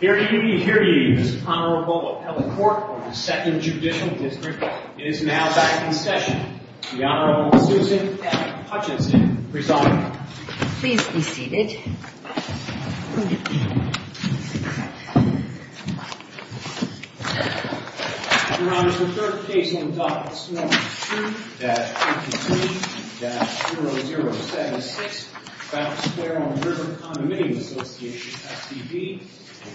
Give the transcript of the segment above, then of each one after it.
Hear ye, hear ye, Mr. Honorable Appellate Court of the Second Judicial District. It is now back in session. The Honorable Susan F. Hutchinson presiding. Please be seated. Your Honor, the third case on the docket this morning, 2-53-0076, Fountain Square on the River Condominium Association, SCV,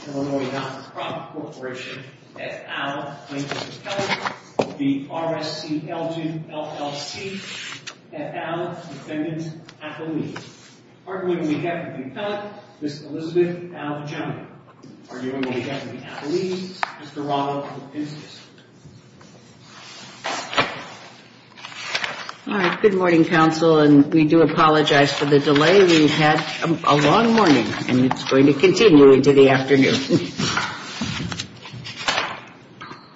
Illinois Nonprofit Corporation, et al., plaintiff's appellate, v. RSC-Elgin, LLC, et al., defendant's appellee. Arguing on behalf of the appellate, Ms. Elizabeth L. Jones. Arguing on behalf of the appellee, Mr. Ronald Pincus. All right, good morning, counsel, and we do apologize for the delay. We've had a long morning, and it's going to continue into the afternoon.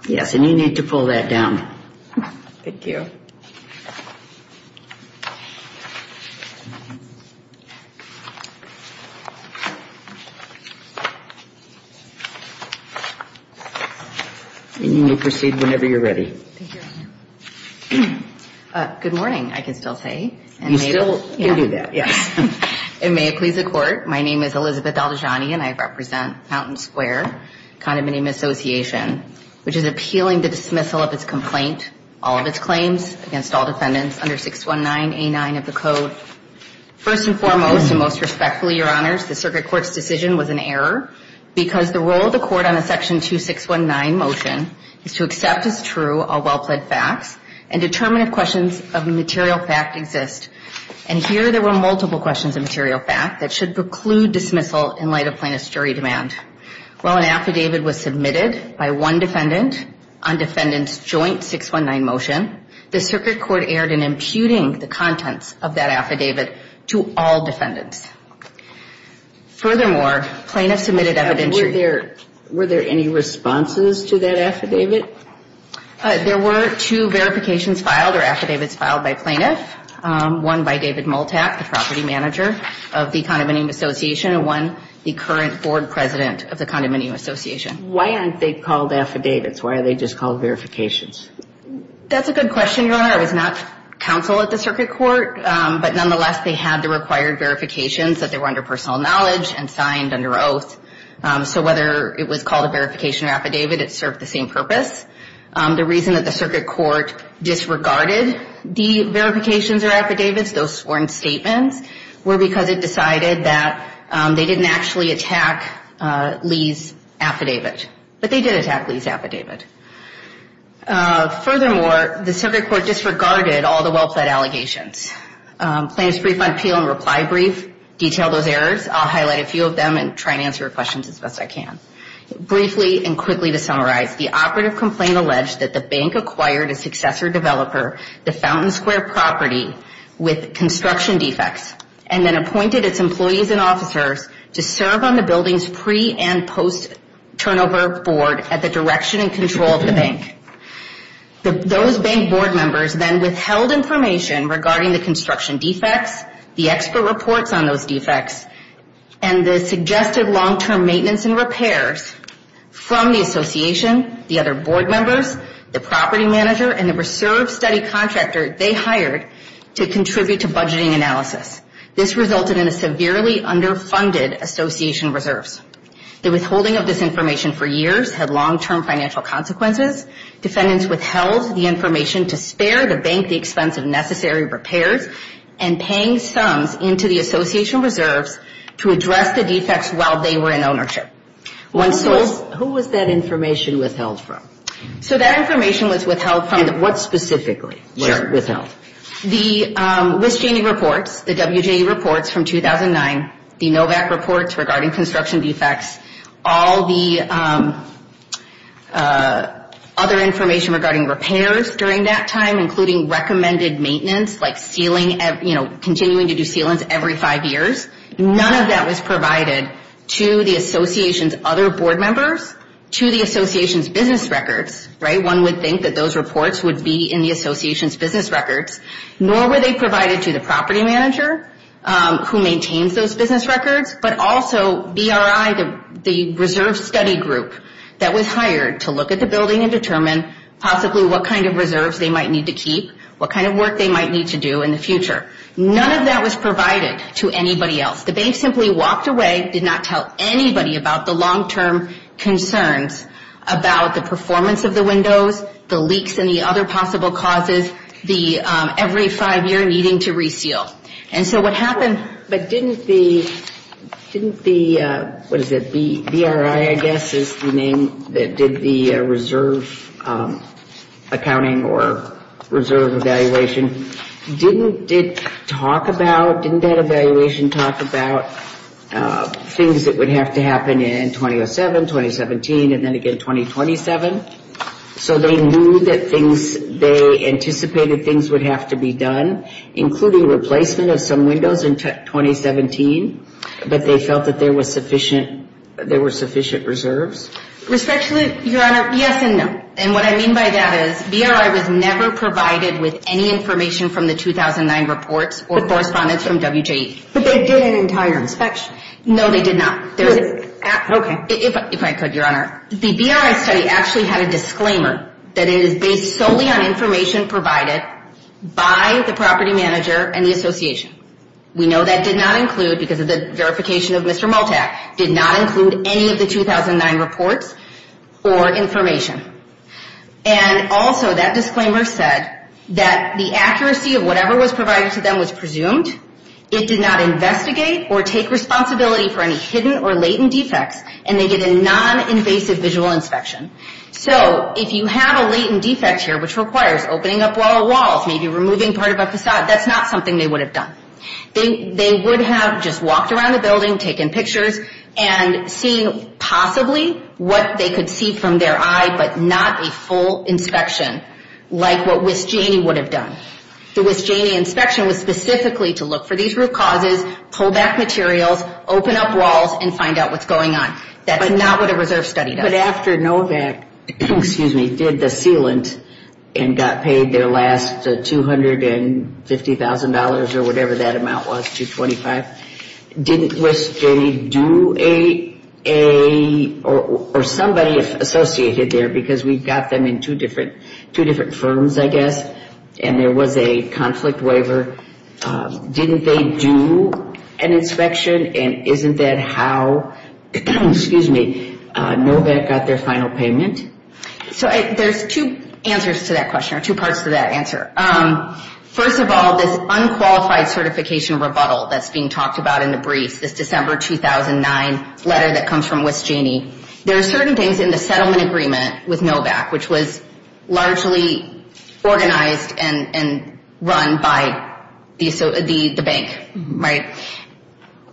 Yes, and you need to pull that down. Thank you. And you may proceed whenever you're ready. Thank you, Your Honor. Good morning, I can still say. You still can do that, yes. And may it please the Court, my name is Elizabeth Daldagiani, and I represent Fountain Square Condominium Association, which is appealing the dismissal of its complaint, all of its claims, and all of its claims. Against all defendants under 619A9 of the Code. First and foremost, and most respectfully, Your Honors, the circuit court's decision was an error. Because the role of the court on a section 2619 motion is to accept as true all well-pled facts, and determine if questions of material fact exist. And here there were multiple questions of material fact that should preclude dismissal in light of plaintiff's jury demand. While an affidavit was submitted by one defendant on defendant's joint 619 motion, the circuit court erred in imputing the contents of that affidavit to all defendants. Furthermore, plaintiff submitted evidentiary. Were there any responses to that affidavit? There were two verifications filed or affidavits filed by plaintiff. One by David Multak, the property manager of the Condominium Association, and one the current board president of the Condominium Association. Why aren't they called affidavits? Why are they just called verifications? That's a good question, Your Honor. I was not counsel at the circuit court. But nonetheless, they had the required verifications that they were under personal knowledge and signed under oath. So whether it was called a verification or affidavit, it served the same purpose. The reason that the circuit court disregarded the verifications or affidavits, those sworn statements, were because it decided that they didn't actually attack Lee's affidavit. But they did attack Lee's affidavit. Furthermore, the circuit court disregarded all the well-pled allegations. Plaintiff's brief appeal and reply brief detailed those errors. I'll highlight a few of them and try to answer your questions as best I can. Briefly and quickly to summarize, the operative complaint alleged that the bank acquired a successor developer, the Fountain Square property, with construction defects, and then appointed its employees and officers to serve on the building's pre- and post-turnover board at the direction and control of the bank. Those bank board members then withheld information regarding the construction defects, the expert reports on those defects, and the suggested long-term maintenance and repairs from the association, the other board members, the property manager, and the reserve study contractor they hired to contribute to budgeting analysis. This resulted in a severely underfunded association reserves. The withholding of this information for years had long-term financial consequences. Defendants withheld the information to spare the bank the expense of necessary repairs and paying sums into the association reserves to address the defects while they were in ownership. Who was that information withheld from? So that information was withheld from the... And what specifically was it withheld? The WISJ reports, the WJA reports from 2009, the NOVAC reports regarding construction defects, all the other information regarding repairs during that time, including recommended maintenance, like continuing to do sealants every five years, none of that was provided to the association's other board members, to the association's business records, right? No one would think that those reports would be in the association's business records, nor were they provided to the property manager who maintains those business records, but also BRI, the reserve study group that was hired to look at the building and determine possibly what kind of reserves they might need to keep, what kind of work they might need to do in the future. None of that was provided to anybody else. The bank simply walked away, did not tell anybody about the long-term concerns about the performance of the windows, the leaks, and the other possible causes, the every-five-year needing to reseal. And so what happened... But didn't the... didn't the... what is it? BRI, I guess, is the name that did the reserve accounting or reserve evaluation. Didn't it talk about... didn't that evaluation talk about things that would have to happen in 2007, 2017, and then again 2027? So they knew that things... they anticipated things would have to be done, including replacement of some windows in 2017, but they felt that there was sufficient... there were sufficient reserves? Respectfully, Your Honor, yes and no. And what I mean by that is BRI was never provided with any information from the 2009 reports or correspondence from WJE. But they did an entire inspection. No, they did not. Okay. If I could, Your Honor, the BRI study actually had a disclaimer that it is based solely on information provided by the property manager and the association. We know that did not include, because of the verification of Mr. Maltak, did not include any of the 2009 reports or information. And also that disclaimer said that the accuracy of whatever was provided to them was presumed, it did not investigate or take responsibility for any hidden or latent defects, and they did a non-invasive visual inspection. So if you have a latent defect here, which requires opening up wall to wall, maybe removing part of a facade, that's not something they would have done. They would have just walked around the building, taken pictures, and seen possibly what they could see from their eye, but not a full inspection like what WIS-JNE would have done. The WIS-JNE inspection was specifically to look for these root causes, pull back materials, open up walls, and find out what's going on. That's not what a reserve study does. But after NOVAC, excuse me, did the sealant and got paid their last $250,000 or whatever that amount was, $225,000, didn't WIS-JNE do a, or somebody associated there, because we've got them in two different firms, I guess, and there was a conflict waiver, didn't they do an inspection, and isn't that how NOVAC got their final payment? So there's two answers to that question, or two parts to that answer. First of all, this unqualified certification rebuttal that's being talked about in the briefs, this December 2009 letter that comes from WIS-JNE, there are certain things in the settlement agreement with NOVAC, which was largely organized and run by the bank, right?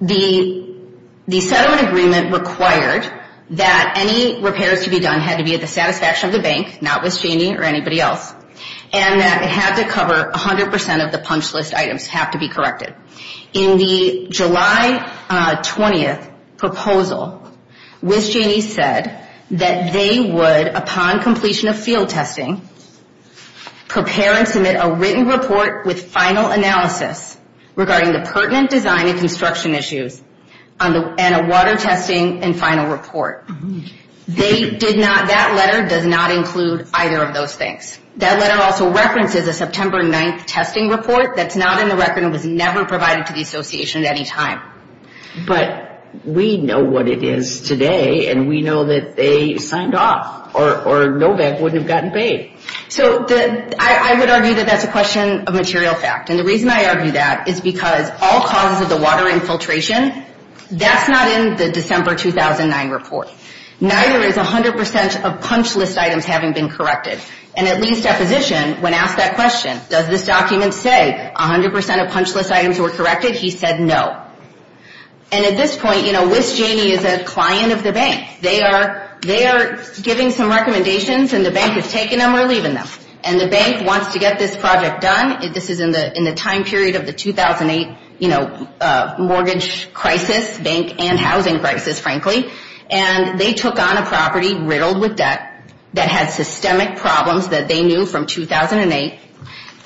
The settlement agreement required that any repairs to be done had to be at the satisfaction of the bank, not WIS-JNE or anybody else, and that it had to cover 100% of the punch list items have to be corrected. In the July 20th proposal, WIS-JNE said that they would, upon completion of field testing, prepare and submit a written report with final analysis regarding the pertinent design and construction issues, and a water testing and final report. They did not, that letter does not include either of those things. That letter also references a September 9th testing report that's not in the record and was never provided to the association at any time. But we know what it is today, and we know that they signed off, or NOVAC wouldn't have gotten paid. So I would argue that that's a question of material fact. And the reason I argue that is because all causes of the water infiltration, that's not in the December 2009 report. Neither is 100% of punch list items having been corrected. And at Lee's deposition, when asked that question, does this document say 100% of punch list items were corrected, he said no. And at this point, you know, WIS-JNE is a client of the bank. They are giving some recommendations, and the bank is taking them or leaving them. And the bank wants to get this project done. This is in the time period of the 2008, you know, mortgage crisis, bank and housing crisis, frankly. And they took on a property riddled with debt that had systemic problems that they knew from 2008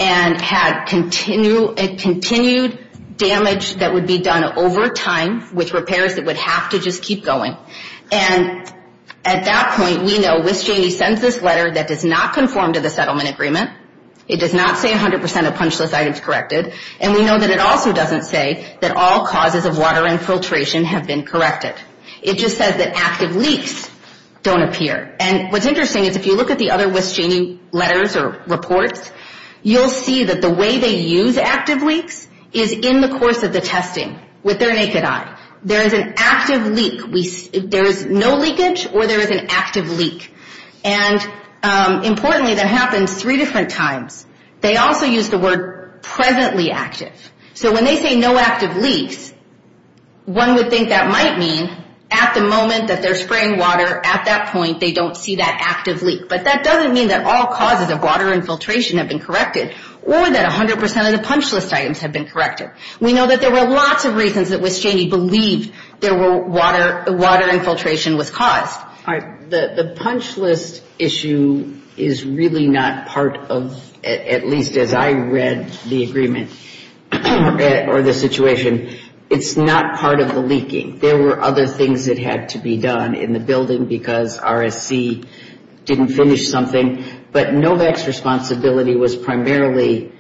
and had continued damage that would be done over time with repairs that would have to just keep going. And at that point, we know WIS-JNE sends this letter that does not conform to the settlement agreement. It does not say 100% of punch list items corrected. And we know that it also doesn't say that all causes of water infiltration have been corrected. It just says that active leaks don't appear. And what's interesting is if you look at the other WIS-JNE letters or reports, you'll see that the way they use active leaks is in the course of the testing with their naked eye. There is an active leak. There is no leakage or there is an active leak. And importantly, that happens three different times. They also use the word presently active. So when they say no active leaks, one would think that might mean at the moment that they're spraying water, at that point they don't see that active leak. But that doesn't mean that all causes of water infiltration have been corrected or that 100% of the punch list items have been corrected. We know that there were lots of reasons that WIS-JNE believed there were water infiltration was caused. The punch list issue is really not part of, at least as I read the agreement or the situation, it's not part of the leaking. There were other things that had to be done in the building because RSC didn't finish something. But NOVAC's responsibility was primarily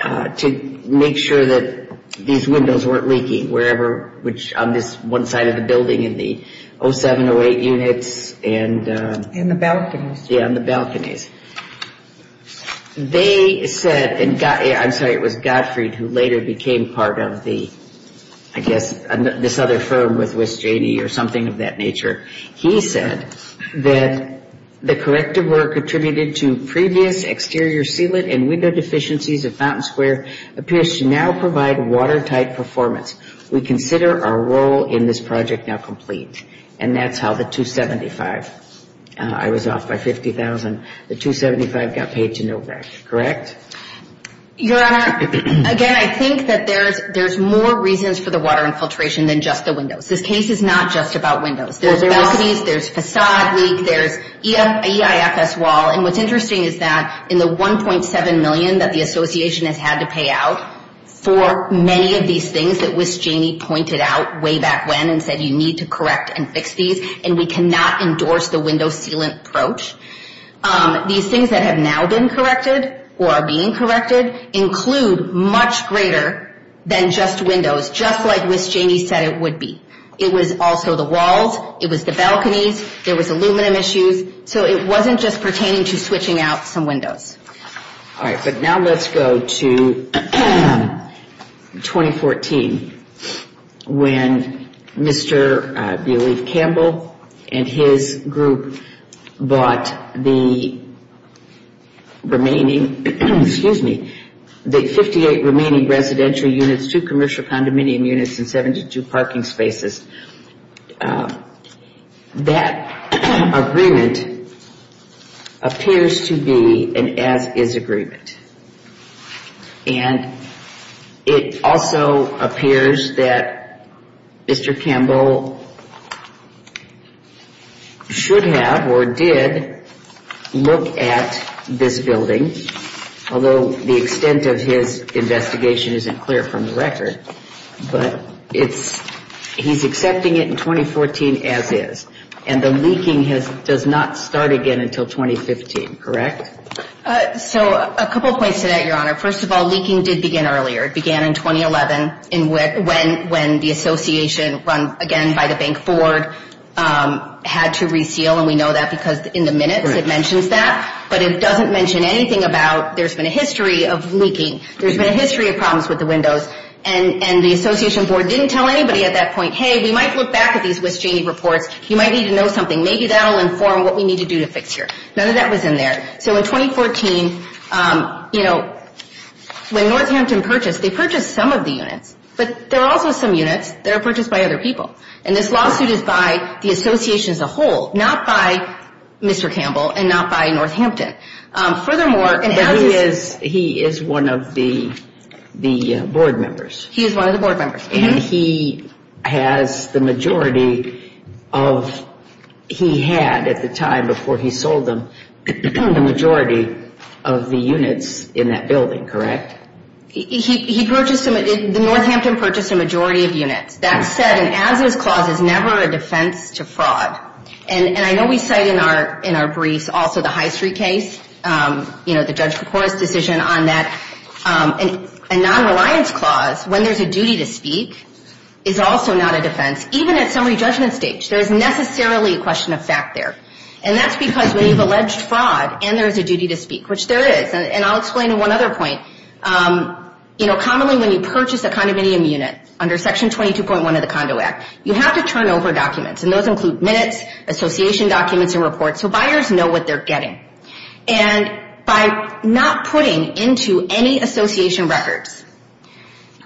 to make sure that these windows weren't And the balconies. Yeah, and the balconies. They said, I'm sorry, it was Gottfried who later became part of the, I guess, this other firm with WIS-JNE or something of that nature. He said that the corrective work attributed to previous exterior sealant and window deficiencies of Fountain Square appears to now provide watertight performance. We consider our role in this project now complete. And that's how the 275, I was off by 50,000. The 275 got paid to NOVAC, correct? Your Honor, again, I think that there's more reasons for the water infiltration than just the windows. This case is not just about windows. There's balconies, there's facade leak, there's EIFS wall. And what's interesting is that in the 1.7 million that the association has had to pay out for many of these things that WIS-JNE pointed out way back when and said you need to correct and fix these, and we cannot endorse the window sealant approach. These things that have now been corrected or are being corrected include much greater than just windows, just like WIS-JNE said it would be. It was also the walls. It was the balconies. There was aluminum issues. So it wasn't just pertaining to switching out some windows. All right, but now let's go to 2014 when Mr. Campbell and his group bought the remaining, excuse me, the 58 remaining residential units, two commercial condominium units and 72 parking spaces. That agreement appears to be an as-is agreement. And it also appears that Mr. Campbell should have or did look at this building, although the extent of his investigation isn't clear from the record. But he's accepting it in 2014 as-is. And the leaking does not start again until 2015, correct? So a couple of points to that, Your Honor. First of all, leaking did begin earlier. It began in 2011 when the association, run again by the Bank Board, had to reseal, and we know that because in the minutes it mentions that. But it doesn't mention anything about there's been a history of leaking. There's been a history of problems with the windows. And the association board didn't tell anybody at that point, hey, we might look back at these Wischaney reports. You might need to know something. Maybe that will inform what we need to do to fix here. None of that was in there. So in 2014, you know, when Northampton purchased, they purchased some of the units, but there are also some units that are purchased by other people. And this lawsuit is by the association as a whole, not by Mr. Campbell and not by Northampton. But he is one of the board members. He is one of the board members. And he has the majority of, he had at the time before he sold them, the majority of the units in that building, correct? He purchased, Northampton purchased a majority of units. That said, an as-is clause is never a defense to fraud. And I know we cite in our briefs also the High Street case, you know, the Judge Kapora's decision on that. A non-reliance clause, when there's a duty to speak, is also not a defense, even at summary judgment stage. There is necessarily a question of fact there. And that's because when you've alleged fraud and there is a duty to speak, which there is, and I'll explain one other point. You know, commonly when you purchase a condominium unit under Section 22.1 of the Condo Act, you have to turn over documents. And those include minutes, association documents and reports, so buyers know what they're getting. And by not putting into any association records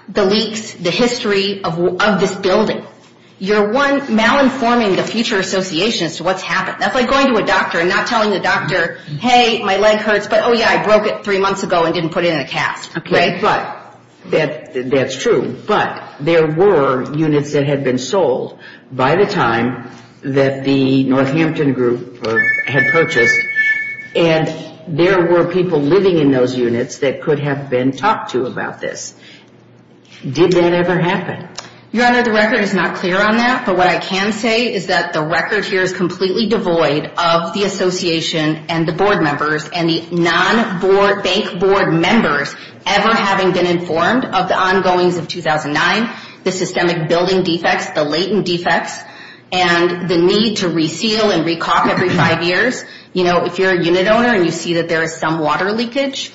the leaks, the history of this building, you're malinforming the future association as to what's happened. That's like going to a doctor and not telling the doctor, hey, my leg hurts, but oh yeah, I broke it three months ago and didn't put it in a cast, right? That's true. But there were units that had been sold by the time that the Northampton Group had purchased, and there were people living in those units that could have been talked to about this. Did that ever happen? Your Honor, the record is not clear on that, but what I can say is that the record here is completely devoid of the association and the board members and the non-bank board members ever having been informed of the ongoings of 2009, the systemic building defects, the latent defects, and the need to reseal and recalk every five years. You know, if you're a unit owner and you see that there is some water leakage,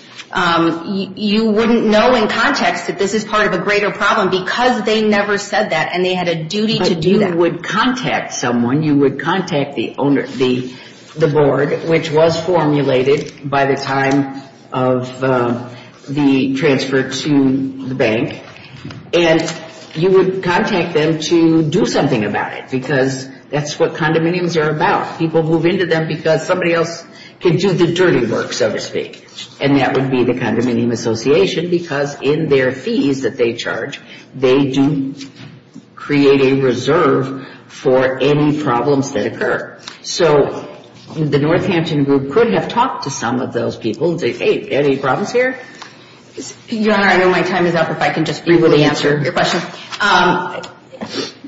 you wouldn't know in context that this is part of a greater problem because they never said that, and they had a duty to do that. But you would contact someone. You would contact the board, which was formulated by the time of the transfer to the bank, and you would contact them to do something about it because that's what condominiums are about. People move into them because somebody else can do the dirty work, so to speak, and that would be the condominium association because in their fees that they charge, they do create a reserve for any problems that occur. So the Northampton group could have talked to some of those people and said, hey, any problems here? Your Honor, I know my time is up. If I can just briefly answer your question.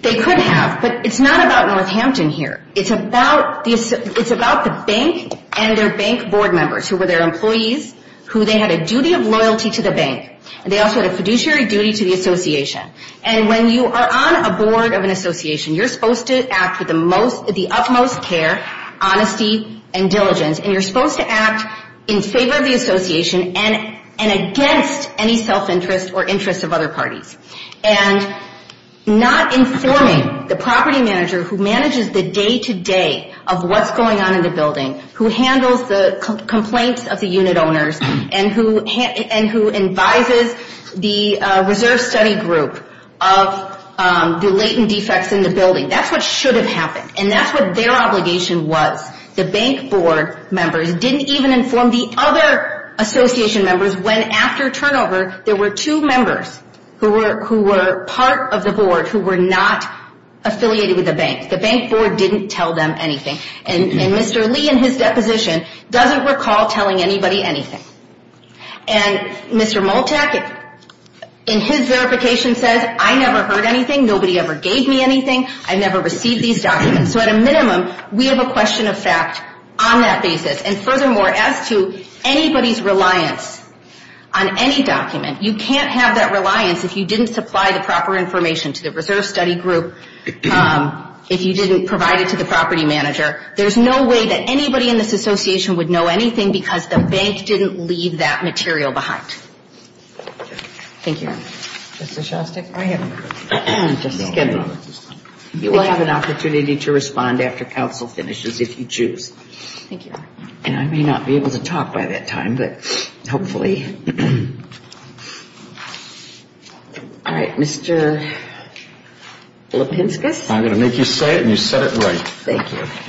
They could have, but it's not about Northampton here. It's about the bank and their bank board members who were their employees, who they had a duty of loyalty to the bank, and they also had a fiduciary duty to the association. And when you are on a board of an association, you're supposed to act with the utmost care, honesty, and diligence, and you're supposed to act in favor of the association and against any self-interest or interest of other parties. And not informing the property manager who manages the day-to-day of what's going on in the building, who handles the complaints of the unit owners and who advises the reserve study group of the latent defects in the building, and not informing the property manager who manages the day-to-day of what's going on in the building. That's what should have happened, and that's what their obligation was. The bank board members didn't even inform the other association members when, after turnover, there were two members who were part of the board who were not affiliated with the bank. The bank board didn't tell them anything. And Mr. Lee, in his deposition, doesn't recall telling anybody anything. And Mr. Moltak, in his verification, says, I never heard anything, nobody ever gave me anything, I never received these documents. So at a minimum, we have a question of fact on that basis. And furthermore, as to anybody's reliance on any document, you can't have that reliance if you didn't supply the proper information to the reserve study group, if you didn't provide it to the property manager. There's no way that anybody in this association would know anything because the bank didn't leave that material behind. Thank you, Your Honor. Justice Shostak, go ahead. You will have an opportunity to respond after counsel finishes, if you choose. Thank you, Your Honor. And I may not be able to talk by that time, but hopefully. All right. Mr. Lipinskis? I'm going to make you say it, and you said it right. Thank you. Yes. Let's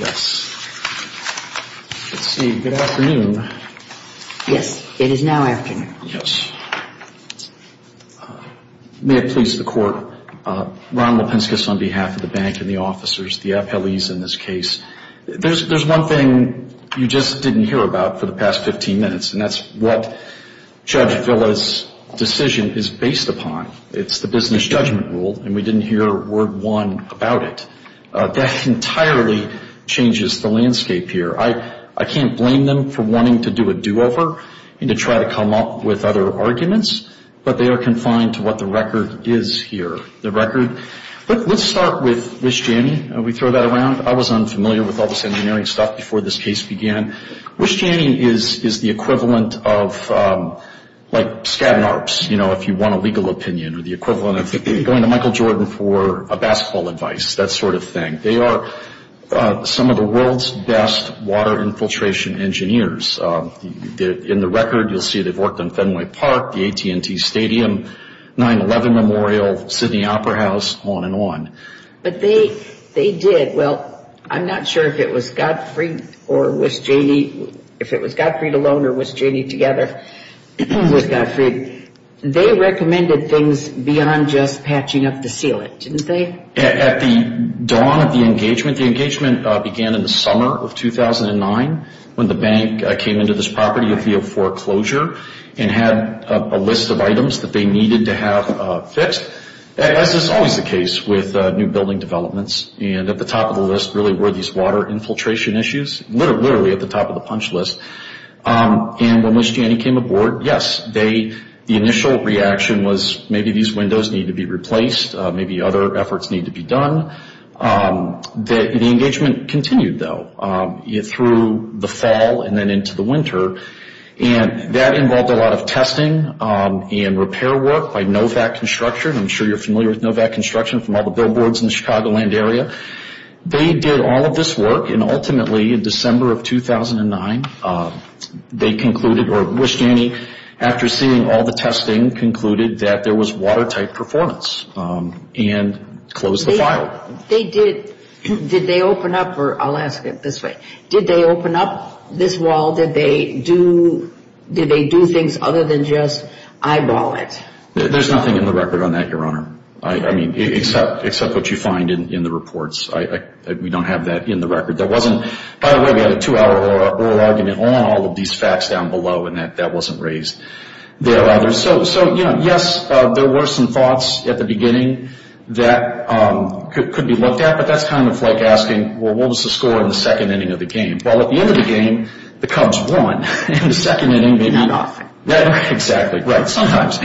see, good afternoon. Yes, it is now afternoon. Yes. May it please the Court, Ron Lipinskis on behalf of the bank and the officers, the appellees in this case. There's one thing you just didn't hear about for the past 15 minutes, and that's what Judge Villa's decision is based upon. It's the business judgment rule, and we didn't hear word one about it. That entirely changes the landscape here. I can't blame them for wanting to do a do-over and to try to come up with other arguments, but they are confined to what the record is here. The record, let's start with Wish Janney. We throw that around. I was unfamiliar with all this engineering stuff before this case began. Wish Janney is the equivalent of, like, Skadden Arps, you know, if you want a legal opinion, or the equivalent of going to Michael Jordan for a basketball advice, that sort of thing. They are some of the world's best water infiltration engineers. In the record, you'll see they've worked on Fenway Park, the AT&T Stadium, 9-11 Memorial, Sydney Opera House, on and on. But they did. Well, I'm not sure if it was Gottfried alone or Wish Janney together. It was Gottfried. They recommended things beyond just patching up the sealant, didn't they? At the dawn of the engagement, the engagement began in the summer of 2009 when the bank came into this property via foreclosure and had a list of items that they needed to have fixed. As is always the case with new building developments, and at the top of the list really were these water infiltration issues, literally at the top of the punch list. And when Wish Janney came aboard, yes, the initial reaction was maybe these windows need to be replaced. Maybe other efforts need to be done. The engagement continued, though, through the fall and then into the winter. And that involved a lot of testing and repair work by Novac Construction. I'm sure you're familiar with Novac Construction from all the billboards in the Chicagoland area. They did all of this work, and ultimately in December of 2009, they concluded, or Wish Janney, after seeing all the testing, concluded that there was watertight performance and closed the file. Did they open up, or I'll ask it this way, did they open up this wall? Did they do things other than just eyeball it? There's nothing in the record on that, Your Honor. I mean, except what you find in the reports. We don't have that in the record. By the way, we had a 2-hour oral argument on all of these facts down below, and that wasn't raised there, either. So, yes, there were some thoughts at the beginning that could be looked at, but that's kind of like asking, well, what was the score in the second inning of the game? Well, at the end of the game, the Cubs won. In the second inning, maybe not. Exactly, right, sometimes.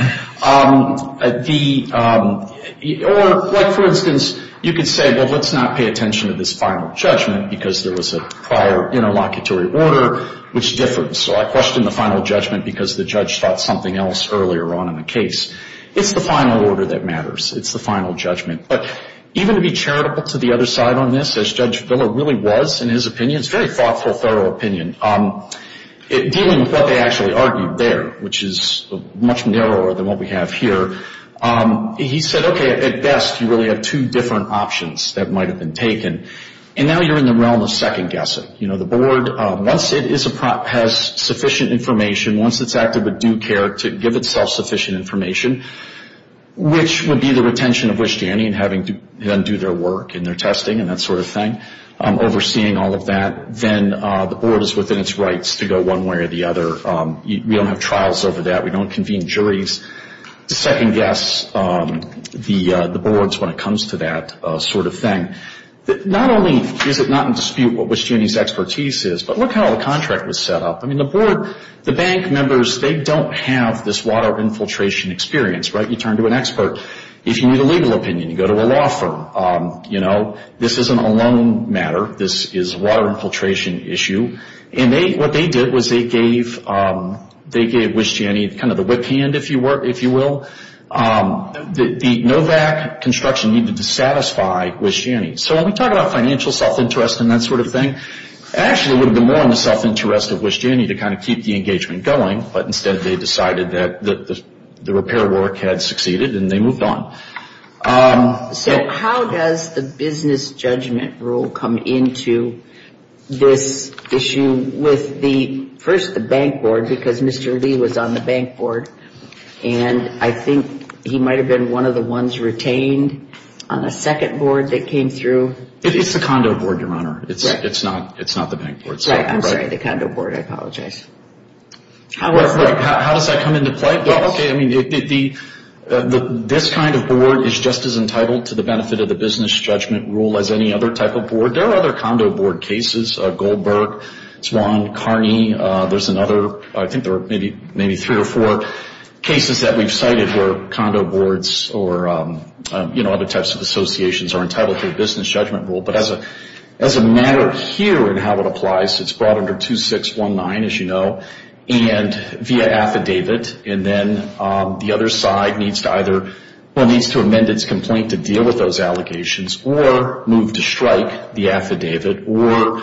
Or, like, for instance, you could say, well, let's not pay attention to this final judgment because there was a prior interlocutory order, which differs. So I question the final judgment because the judge thought something else earlier on in the case. It's the final order that matters. It's the final judgment. But even to be charitable to the other side on this, as Judge Filler really was in his opinion, it's a very thoughtful, thorough opinion, dealing with what they actually argued there, which is much narrower than what we have here. He said, okay, at best, you really have two different options that might have been taken. And now you're in the realm of second guessing. You know, the board, once it has sufficient information, once it's active with due care to give itself sufficient information, which would be the retention of Wishtyanny and having them do their work and their testing and that sort of thing, overseeing all of that, then the board is within its rights to go one way or the other. We don't have trials over that. We don't convene juries to second guess the boards when it comes to that sort of thing. Not only is it not in dispute what Wishtyanny's expertise is, but look how the contract was set up. I mean, the board, the bank members, they don't have this water infiltration experience, right? You turn to an expert. If you need a legal opinion, you go to a law firm. This isn't a loan matter. This is water infiltration issue. And what they did was they gave Wishtyanny kind of the whip hand, if you will. The NOVAC construction needed to satisfy Wishtyanny. So when we talk about financial self-interest and that sort of thing, actually it would have been more in the self-interest of Wishtyanny to kind of keep the engagement going, but instead they decided that the repair work had succeeded and they moved on. So how does the business judgment rule come into this issue with first the bank board, because Mr. Lee was on the bank board and I think he might have been one of the ones retained on the second board that came through. It's the condo board, Your Honor. It's not the bank board. I'm sorry, the condo board. I apologize. How does that come into play? This kind of board is just as entitled to the benefit of the business judgment rule as any other type of board. There are other condo board cases. Goldberg, Swan, Carney, there's another, I think there are maybe three or four cases that we've cited where condo boards or other types of associations are entitled to a business judgment rule. But as a matter here and how it applies, it's brought under 2619, as you know, and via affidavit and then the other side needs to amend its complaint to deal with those allegations or move to strike the affidavit or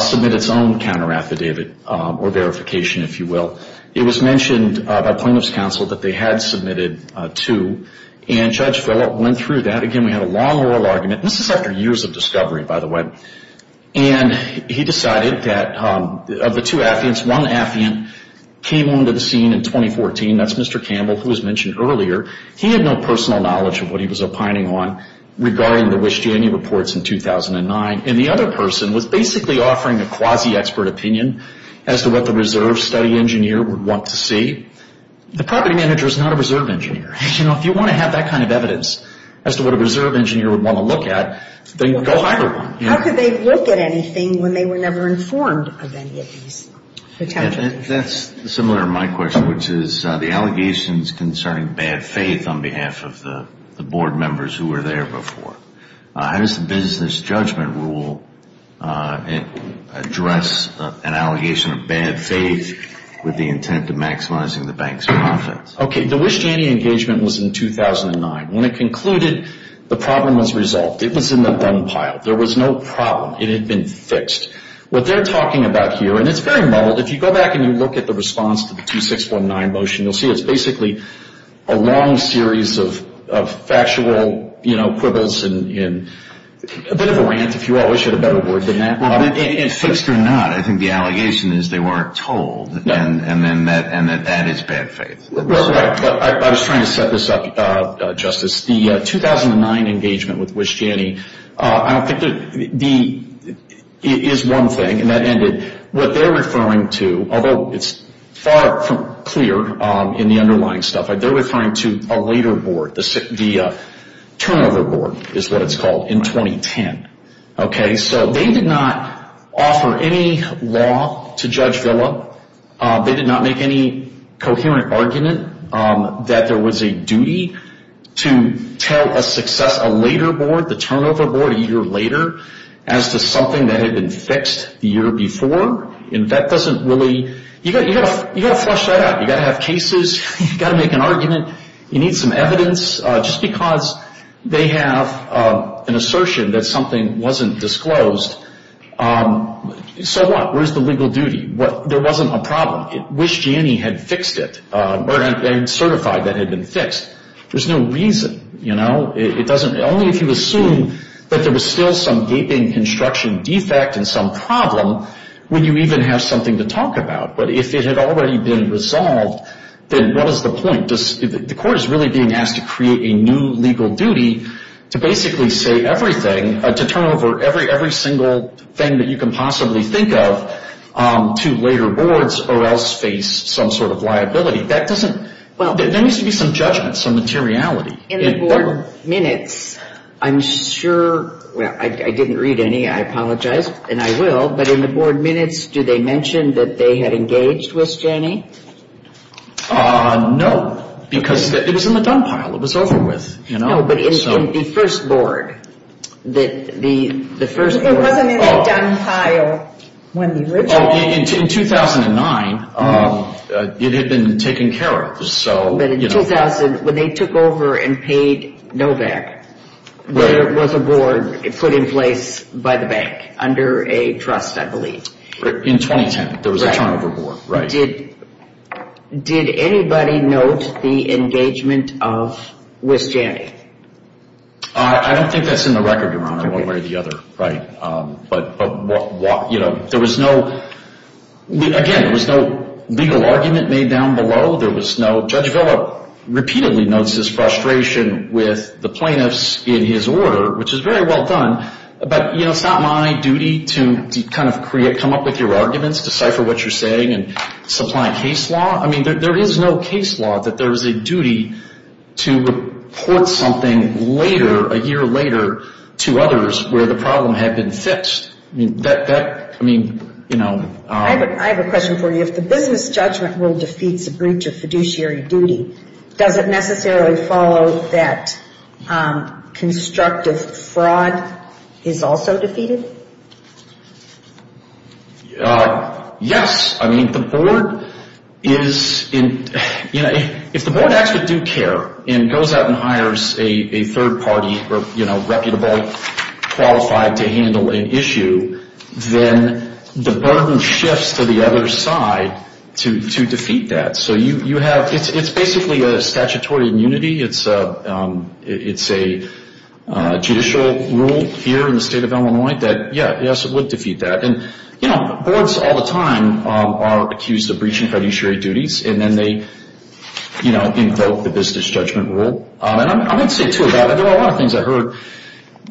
submit its own counter affidavit or verification, if you will. It was mentioned by plaintiff's counsel that they had submitted two and Judge Follett went through that. Again, we had a long oral argument. This is after years of discovery, by the way. He decided that of the two affiants, one affiant came onto the scene in 2014. That's Mr. Campbell, who was mentioned earlier. He had no personal knowledge of what he was opining on regarding the Wish-Danny reports in 2009. The other person was basically offering a quasi-expert opinion as to what the reserve study engineer would want to see. The property manager is not a reserve engineer. If you want to have that kind of evidence as to what a reserve engineer would want to look at, then go hire one. How could they look at anything when they were never informed of any of these? That's similar to my question, which is the allegations concerning bad faith on behalf of the board members who were there before. How does the business judgment rule address an allegation of bad faith with the intent of maximizing the bank's profits? The Wish-Danny engagement was in 2009. When it concluded, the problem was resolved. It was in the done pile. There was no problem. It had been fixed. What they're talking about here, and it's very mulled. If you go back and you look at the response to the 2619 motion, you'll see it's basically a long series of factual quibbles and a bit of a rant, if you will. I should have better word than that. Fixed or not, I think the allegation is they weren't told and that that is bad faith. I was trying to set this up, Justice. The 2009 engagement with Wish-Danny is one thing, and that ended. What they're referring to, although it's far from clear in the underlying stuff, they're referring to a later board, the turnover board is what it's called, in 2010. They did not offer any law to Judge Villa. They did not make any coherent argument that there was a duty to tell a success, a later board, the turnover board a year later as to something that had been fixed the year before. You've got to flush that out. You've got to have cases. You've got to make an argument. You need some evidence just because they have an assertion that something wasn't disclosed. So what? Where's the legal duty? There wasn't a problem. Wish-Danny had fixed it and certified that it had been fixed. There's no reason. Only if you assume that there was still some gaping construction defect and some problem would you even have something to talk about. But if it had already been resolved, then what is the point? The court is really being asked to create a new legal duty to basically say everything, to turn over every single thing that you can possibly think of to later boards or else face some sort of liability. There needs to be some judgment, some materiality. In the board minutes, I'm sure I didn't read any, I apologize, and I will, but in the board minutes, do they mention that they had engaged Wish-Danny? No, because it was in the dump pile. It was over with. No, but in the first board. It wasn't in the dump pile. In 2009, it had been taken care of. But in 2000, when they took over and paid Novak, under a trust, I believe. In 2010, there was a turnover board. Did anybody note the engagement of Wish-Danny? I don't think that's in the record, Your Honor, one way or the other. Again, there was no legal argument made down below. Judge Villa repeatedly notes his frustration with the plaintiffs in his order, which is very well done, but it's not my duty to come up with your arguments, decipher what you're saying, and supply case law. There is no case law that there is a duty to report something a year later to others where the problem had been fixed. I have a question for you. If the business judgment rule defeats a breach of fiduciary duty, does it necessarily follow that constructive fraud is also defeated? Yes. If the board actually do care and goes out and hires a third party or reputable qualified to handle an issue, then the burden shifts to the other side to defeat that. It's basically a statutory immunity. It's a judicial rule here in the state of Illinois that, yes, it would defeat that. Boards all the time are accused of breaching fiduciary duties and then they invoke the business judgment rule. I might say two about it. There are a lot of things I heard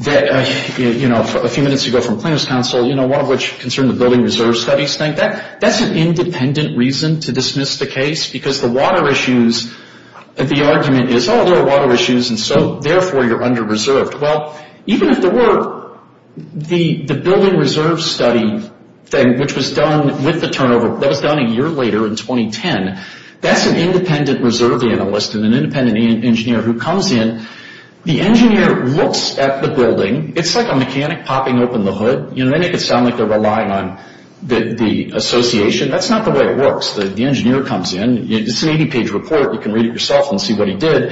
a few minutes ago from plaintiffs' counsel, one of which concerned the building reserve study. That's an independent reason to dismiss the case because the argument is there are water issues and therefore you're under-reserved. Even if there were, the building reserve study thing, which was done a year later in 2010, that's an independent reserve analyst and an independent engineer who comes in. The engineer looks at the building. It's like a mechanic popping open the hood. They make it sound like they're relying on the association. That's not the way it works. The engineer comes in. It's an 80-page report. You can read it yourself and see what he did.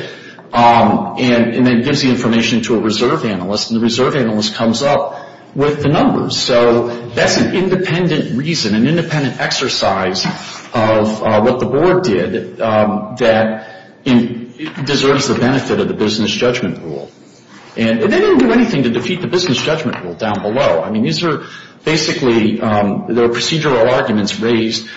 Then he gives the information to a reserve analyst and the reserve analyst comes up with the numbers. That's an independent reason, an independent exercise of what the board did that deserves the benefit of the business judgment rule. They didn't do anything to defeat the business judgment rule down below. These are basically procedural arguments raised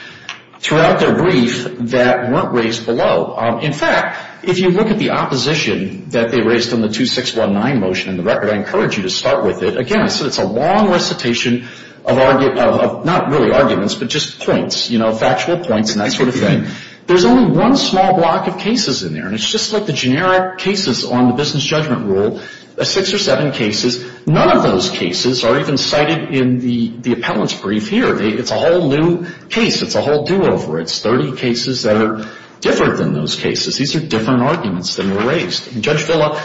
throughout their brief that weren't raised below. In fact, if you look at the opposition that they raised on the 2619 motion in the record, I encourage you to start with it. Again, it's a long recitation of not really arguments, but just points, factual points and that sort of thing. There's only one small block of cases in there. It's just like the generic cases on the business judgment rule. Six or seven cases. None of those cases are even cited in the appellant's brief here. It's a whole new case. It's a whole do-over. It's 30 cases that are different than those cases. These are different arguments that were raised. Judge Villa,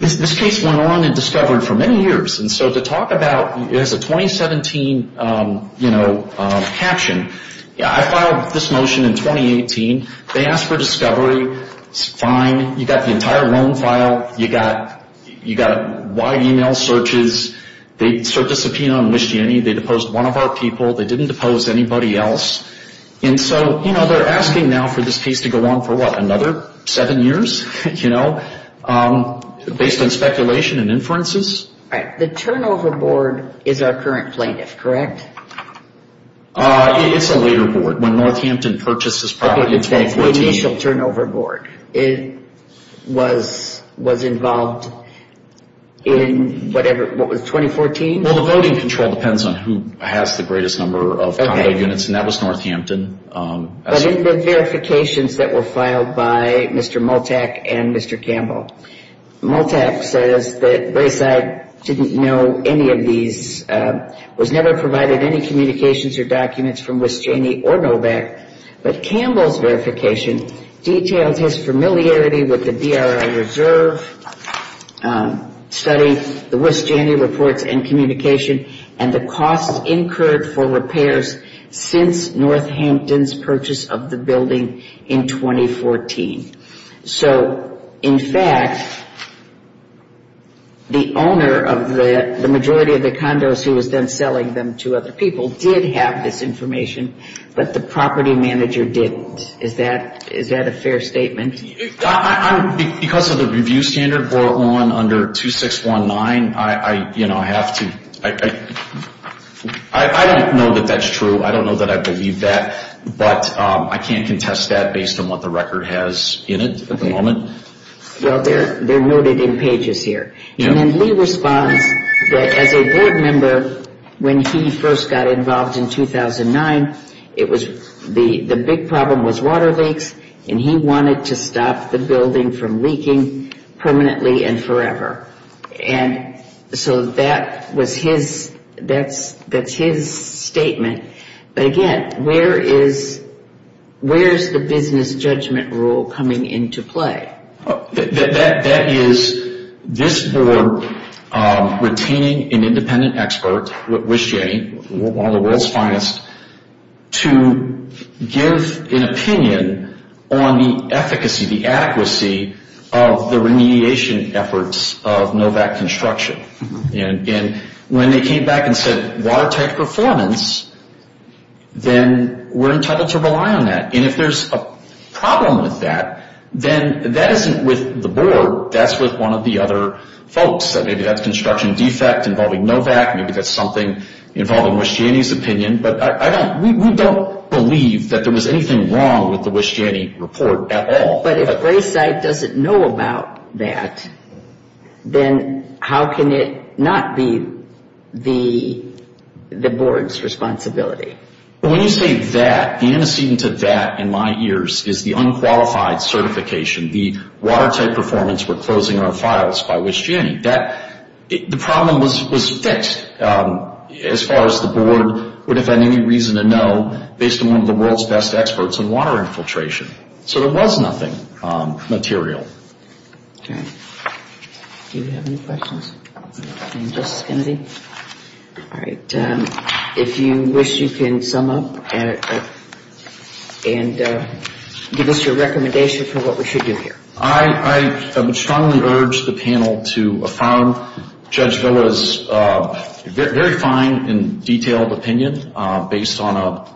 this case went on in discovery for many years. To talk about it as a 2017 caption, I filed this motion in 2018. They asked for discovery. It's fine. You got the entire loan file. You got wide e-mail searches. They served a subpoena on Lischiani. They deposed one of our people. They didn't depose anybody else. They're asking now for this case to go on for another seven years based on speculation and inferences. The turnover board is our current plaintiff, correct? It's a later board. When Northampton purchased this property in 2014. It's the initial turnover board. It was involved in whatever... What was it? 2014? The voting control depends on who has the greatest number of condo units. That was Northampton. But in the verifications that were filed by Mr. Multac and Mr. Campbell, Multac says that Brayside didn't know any of these, was never provided any communications or documents from Lischiani or Novak. But Campbell's verification details his familiarity with the DRA reserve study, the Lischiani reports and communication, and the costs incurred for repairs since Northampton's purchase of the building in 2014. In fact, the owner of the majority of the condos who was then selling them to other people did have this information, but the property manager didn't. Is that a fair statement? Because of the review standard brought on under 2619, I have to... I don't know that that's true. I don't know that I believe that, but I can't contest that based on what the record has in it at the moment. Well, they're noted in pages here. And then Lee responds that as a board member, when he first got involved in 2009, it was... the big problem was water leaks, and he wanted to stop the building from leaking permanently and forever. And so that was his... that's his statement. But again, where is the business judgment rule coming into play? That is this board retaining an independent expert, one of the world's finest, to give an opinion on the efficacy, the adequacy of the remediation efforts of NOVAC construction. And when they came back and said watertight performance, then we're entitled to rely on that. And if there's a problem with that, then that isn't with the board. That's with one of the other folks. Maybe that's construction defect involving NOVAC. Maybe that's something involving Wish Janney's opinion. But we don't believe that there was anything wrong with the Wish Janney report at all. But if Grayside doesn't know about that, then how can it not be the board's responsibility? When you say that, the antecedent to that in my ears is the unqualified certification, the watertight performance, we're closing our files by Wish Janney. The problem was fixed as far as the board would have had any reason to know based on one of the world's best experts on water infiltration. So there was nothing material. Okay. Do we have any questions? All right. If you wish, you can sum up and give us your recommendation for what we should do here. I would strongly urge the panel to affirm Judge Villa's very fine and detailed opinion based on a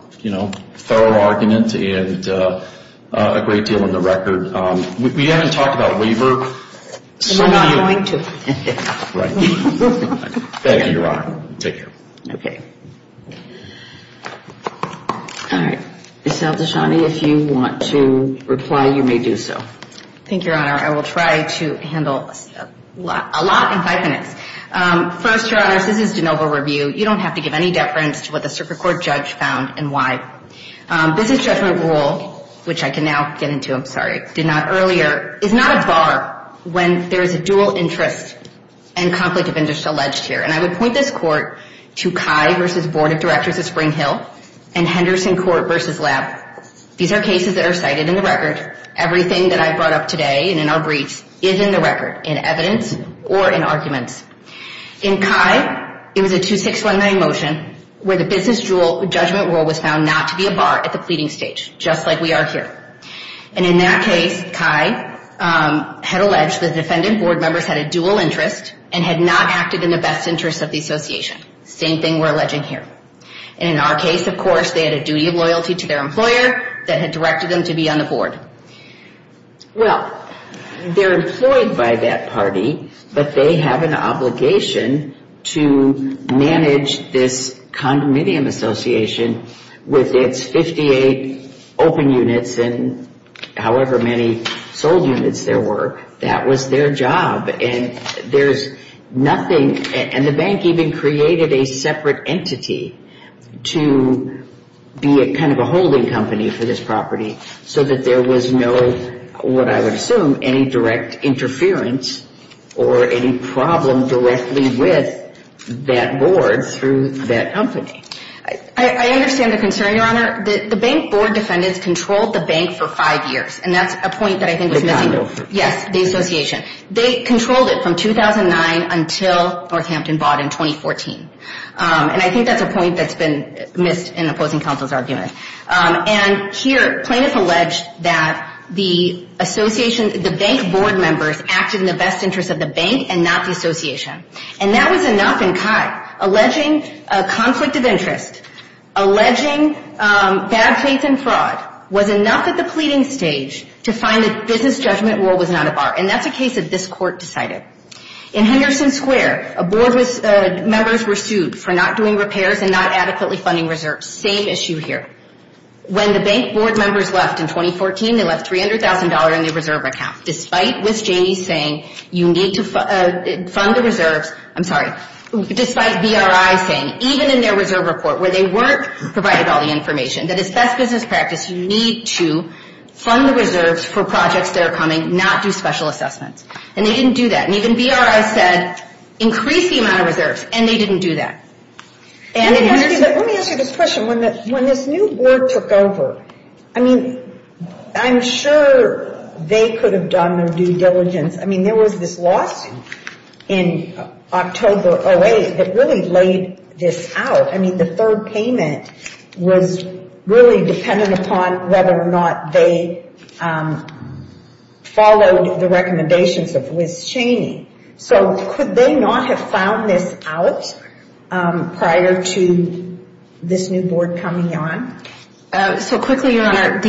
thorough argument and a great deal on the record. We haven't talked about waiver. We're not going to. Thank you, Your Honor. Take care. All right. Ms. Al-Dashani, if you want to reply, you may do so. Thank you, Your Honor. I will try to handle a lot in five minutes. First, Your Honors, this is de novo review. You don't have to give any deference to what the Super Court judge found and why. Business judgment rule, which I can now get into, I'm sorry, did not earlier, is not a bar when there is a dual interest and conflict of interest alleged here. And I would point this Court to Kye v. Board of Directors of Spring Hill and Henderson Court v. Lab. These are cases that are cited in the record. Everything that I brought up today and in our briefs is in the record, in evidence or in arguments. In Kye, it was a 2619 motion where the business judgment rule was found not to be a bar at the pleading stage, just like we are here. And in that case, Kye had alleged the defendant board members had a dual interest and had not acted in the best interest of the association. Same thing we're alleging here. And in our case, of course, they had a duty of loyalty to their employer that had directed them to be on the board. Well, they're employed by that party, but they have an obligation to manage this condominium association with its 58 open units and however many sold units there were. That was their job. And there's nothing, and the bank even created a separate entity to be a kind of a holding company for this property so that there was no, what I would assume, any direct interference or any problem directly with that board through that company. I understand the concern, Your Honor. The bank board defendants controlled the bank for five years and that's a point that I think was missing. Yes, the association. They controlled it from 2009 until Northampton bought in 2014. And I think that's a point that's been missed in opposing counsel's argument. And here, plaintiff alleged that the association, the bank board members acted in the best interest of the bank and not the association. And that was enough in Kai. Alleging a conflict of interest, alleging bad faith and fraud was enough at the pleading stage to find that business judgment rule was not a bar. And that's a case that this court decided. In Henderson Square, a board members were sued for not doing repairs and not adequately funding reserves. Same issue here. When the bank board members left in 2014, they left $300,000 in their reserve account despite Ms. Janey saying you need to fund the reserves. I'm sorry, despite BRI saying even in their reserve report where they weren't provided all the information that it's best business practice, you need to fund the reserves for projects that are coming, not do special assessments. And they didn't do that. And even BRI said increase the amount of reserves. And they didn't do that. Let me ask you this question. When this new board took over, I mean, I'm sure they could have done their due diligence. I mean, there was this lawsuit in October 08 that really laid this out. I mean, the third payment was really dependent upon whether or not they followed the recommendations of Ms. Janey. So could they not have found this out prior to this new board coming on? So quickly, Your Honor,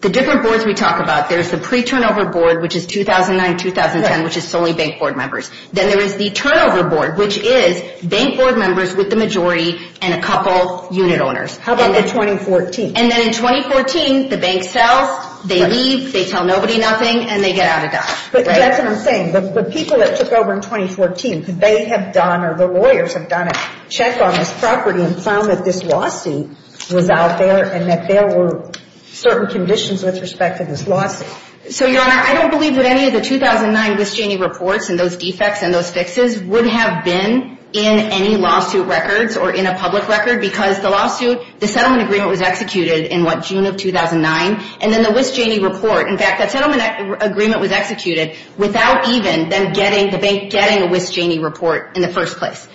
the different boards we talk about, there's the pre-turnover board, which is 2009-2010, which is solely bank board members. Then there is the turnover board, which is bank board members with the majority and a couple unit owners. How about the 2014? And then in 2014, the bank sells, they leave, they tell nobody nothing, and they get out of debt. But that's what I'm saying. The people that took over in 2014, they have done or the lawyers have done a check on this property and found that this lawsuit was out there and that there were certain conditions with respect to this lawsuit. So, Your Honor, I don't believe that any of the 2009 Wiss-Janey reports and those defects and those fixes would have been in any lawsuit records or in a public record because the settlement agreement was executed in what, June of 2009? And then the Wiss-Janey report, in fact, that settlement agreement was executed without even the bank getting a Wiss-Janey report in the first place.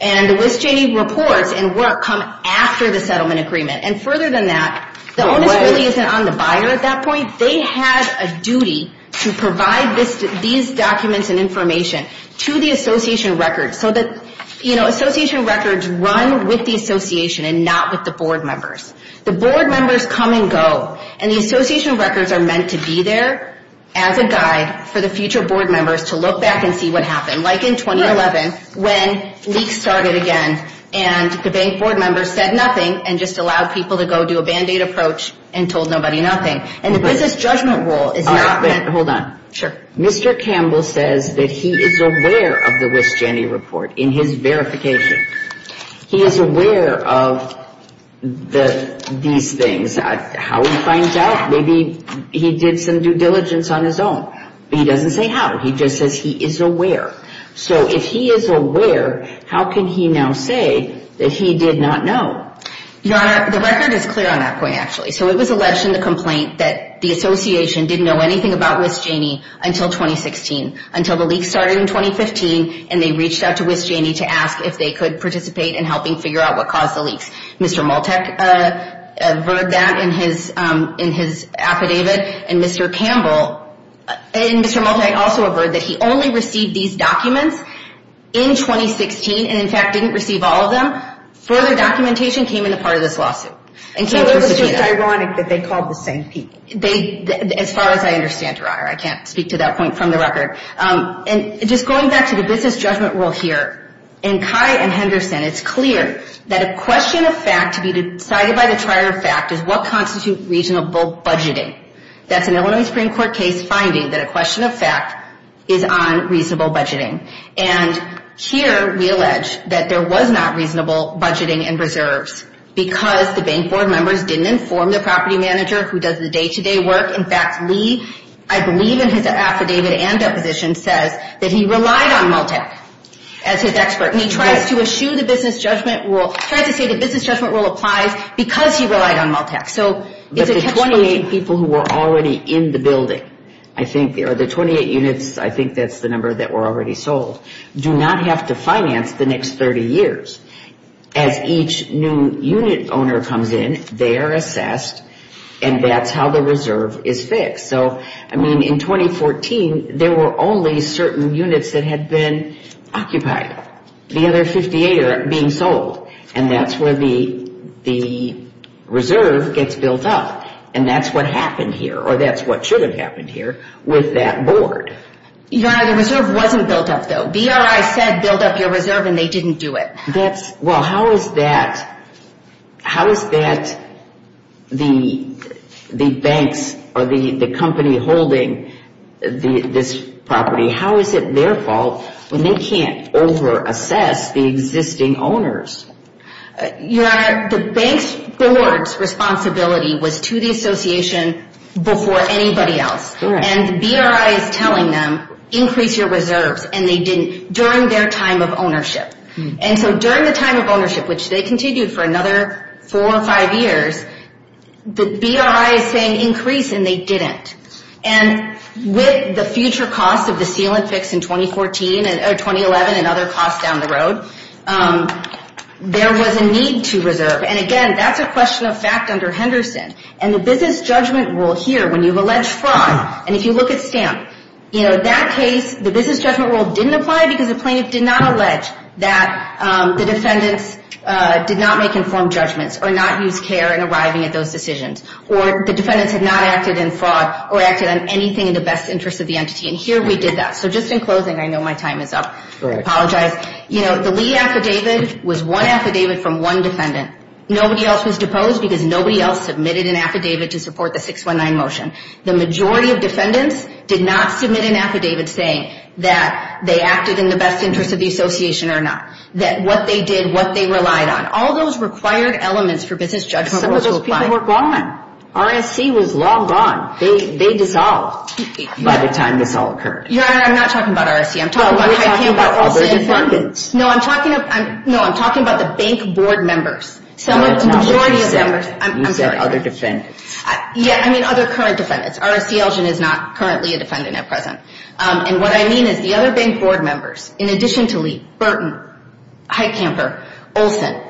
And the Wiss-Janey reports and work come after the settlement agreement. And further than that, the onus really isn't on the buyer at that point. They had a duty to provide these documents and information to the association records so that, you know, association records run with the association and not with the board members. The board members come and go, and the association records are meant to be there as a guide for the future board members to look back and see what happened, like in 2011 when leaks started again and the bank board members said nothing and just allowed people to go do a Band-Aid approach and told nobody nothing. And the business judgment rule is not meant... Hold on. Mr. Campbell says that he is aware of the Wiss-Janey report in his verification. He is aware of these things. How he finds out, maybe he did some due diligence on his own. But he doesn't say how. He just says he is aware. So if he is aware, how can he now say that he did not know? Your Honor, the record is clear on that point, actually. So it was alleged in the complaint that the association didn't know anything about Wiss-Janey until 2016, until the leaks started in 2015 and they reached out to Wiss-Janey to ask if they could participate in helping figure out what caused the leaks. Mr. Maltek averred that in his affidavit and Mr. Campbell... It's just ironic that they called the same people. As far as I understand, Your Honor. I can't speak to that point from the record. Just going back to the business judgment rule here and Kai and Henderson, it is clear that a question of fact to be decided by the trier of fact is what constitute reasonable budgeting. That's an Illinois Supreme Court case finding that a question of fact is on reasonable budgeting. And here we allege that there was not reasonable budgeting and reserves because the bank board members didn't inform the property manager who does the day-to-day work. In fact, Lee, I believe in his affidavit and deposition, says that he relied on Multac as his expert. And he tries to eschew the business judgment rule. He tries to say the business judgment rule applies because he relied on Multac. But the 28 people who were already in the building, I think, or the 28 units, I think that's the number that were already sold, do not have to finance the next 30 years. As each new unit owner comes in, they are assessed, and that's how the reserve is fixed. So, I mean, in 2014, there were only certain units that had been occupied. The other 58 are being sold. And that's where the reserve gets built up. And that's what happened here, or that's what should have happened here with that board. Your Honor, the reserve wasn't built up, though. BRI said build up your reserve, and they didn't do it. Well, how is that the banks or the company holding this property, how is it their fault when they can't over-assess the existing owners? Your Honor, the bank's board's responsibility was to the association before anybody else. And the BRI is telling them, increase your reserves, and they didn't during their time of ownership. And so during the time of ownership, which they continued for another 4 or 5 years, the BRI is saying increase, and they didn't. And with the future costs of the seal and fix in 2011 and other costs down the road, there was a need to reserve. And again, that's a question of fact under Henderson. And the business judgment rule here, when you've alleged fraud, and if you look at Stamp, that case, the business judgment rule didn't apply because the plaintiff did not allege that the defendants did not make informed judgments or not use care in arriving at those decisions. Or the defendants had not acted in fraud or acted on anything in the best interest of the entity. And here we did that. So just in closing, I know my time is up. I apologize. The Lee affidavit was one affidavit from one defendant. Nobody else was deposed because nobody else submitted an affidavit to support the 619 motion. The majority of defendants did not submit an affidavit saying that they acted in the best interest of the association or not. That what they did, what they relied on. All those required elements for business judgment rules to apply. Some of those people were gone. RSC was long gone. They dissolved by the time this all occurred. Your Honor, I'm not talking about RSC. You're talking about other defendants. No, I'm talking about the bank board members. I'm sorry. Other defendants. Yeah, I mean other current defendants. RSC Elgin is not currently a defendant at present. And what I mean is the other bank board members, in addition to Lee, Burton, Heitkamper, Olson,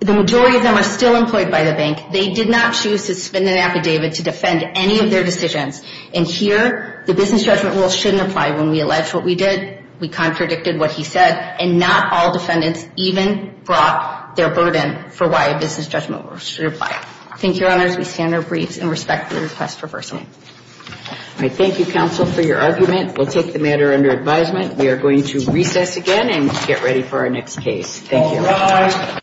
the majority of them are still employed by the bank. They did not choose to suspend an affidavit to defend any of their decisions. And here, the business judgment rules shouldn't apply. When we alleged what we did, we contradicted what he said. And not all defendants even brought their burden for why a business judgment rule should apply. Thank you, Your Honors. We stand our briefs and respect the request for personal. All right. Thank you, counsel, for your argument. We'll take the matter under advisement. We are going to recess again and get ready for our next case. Thank you.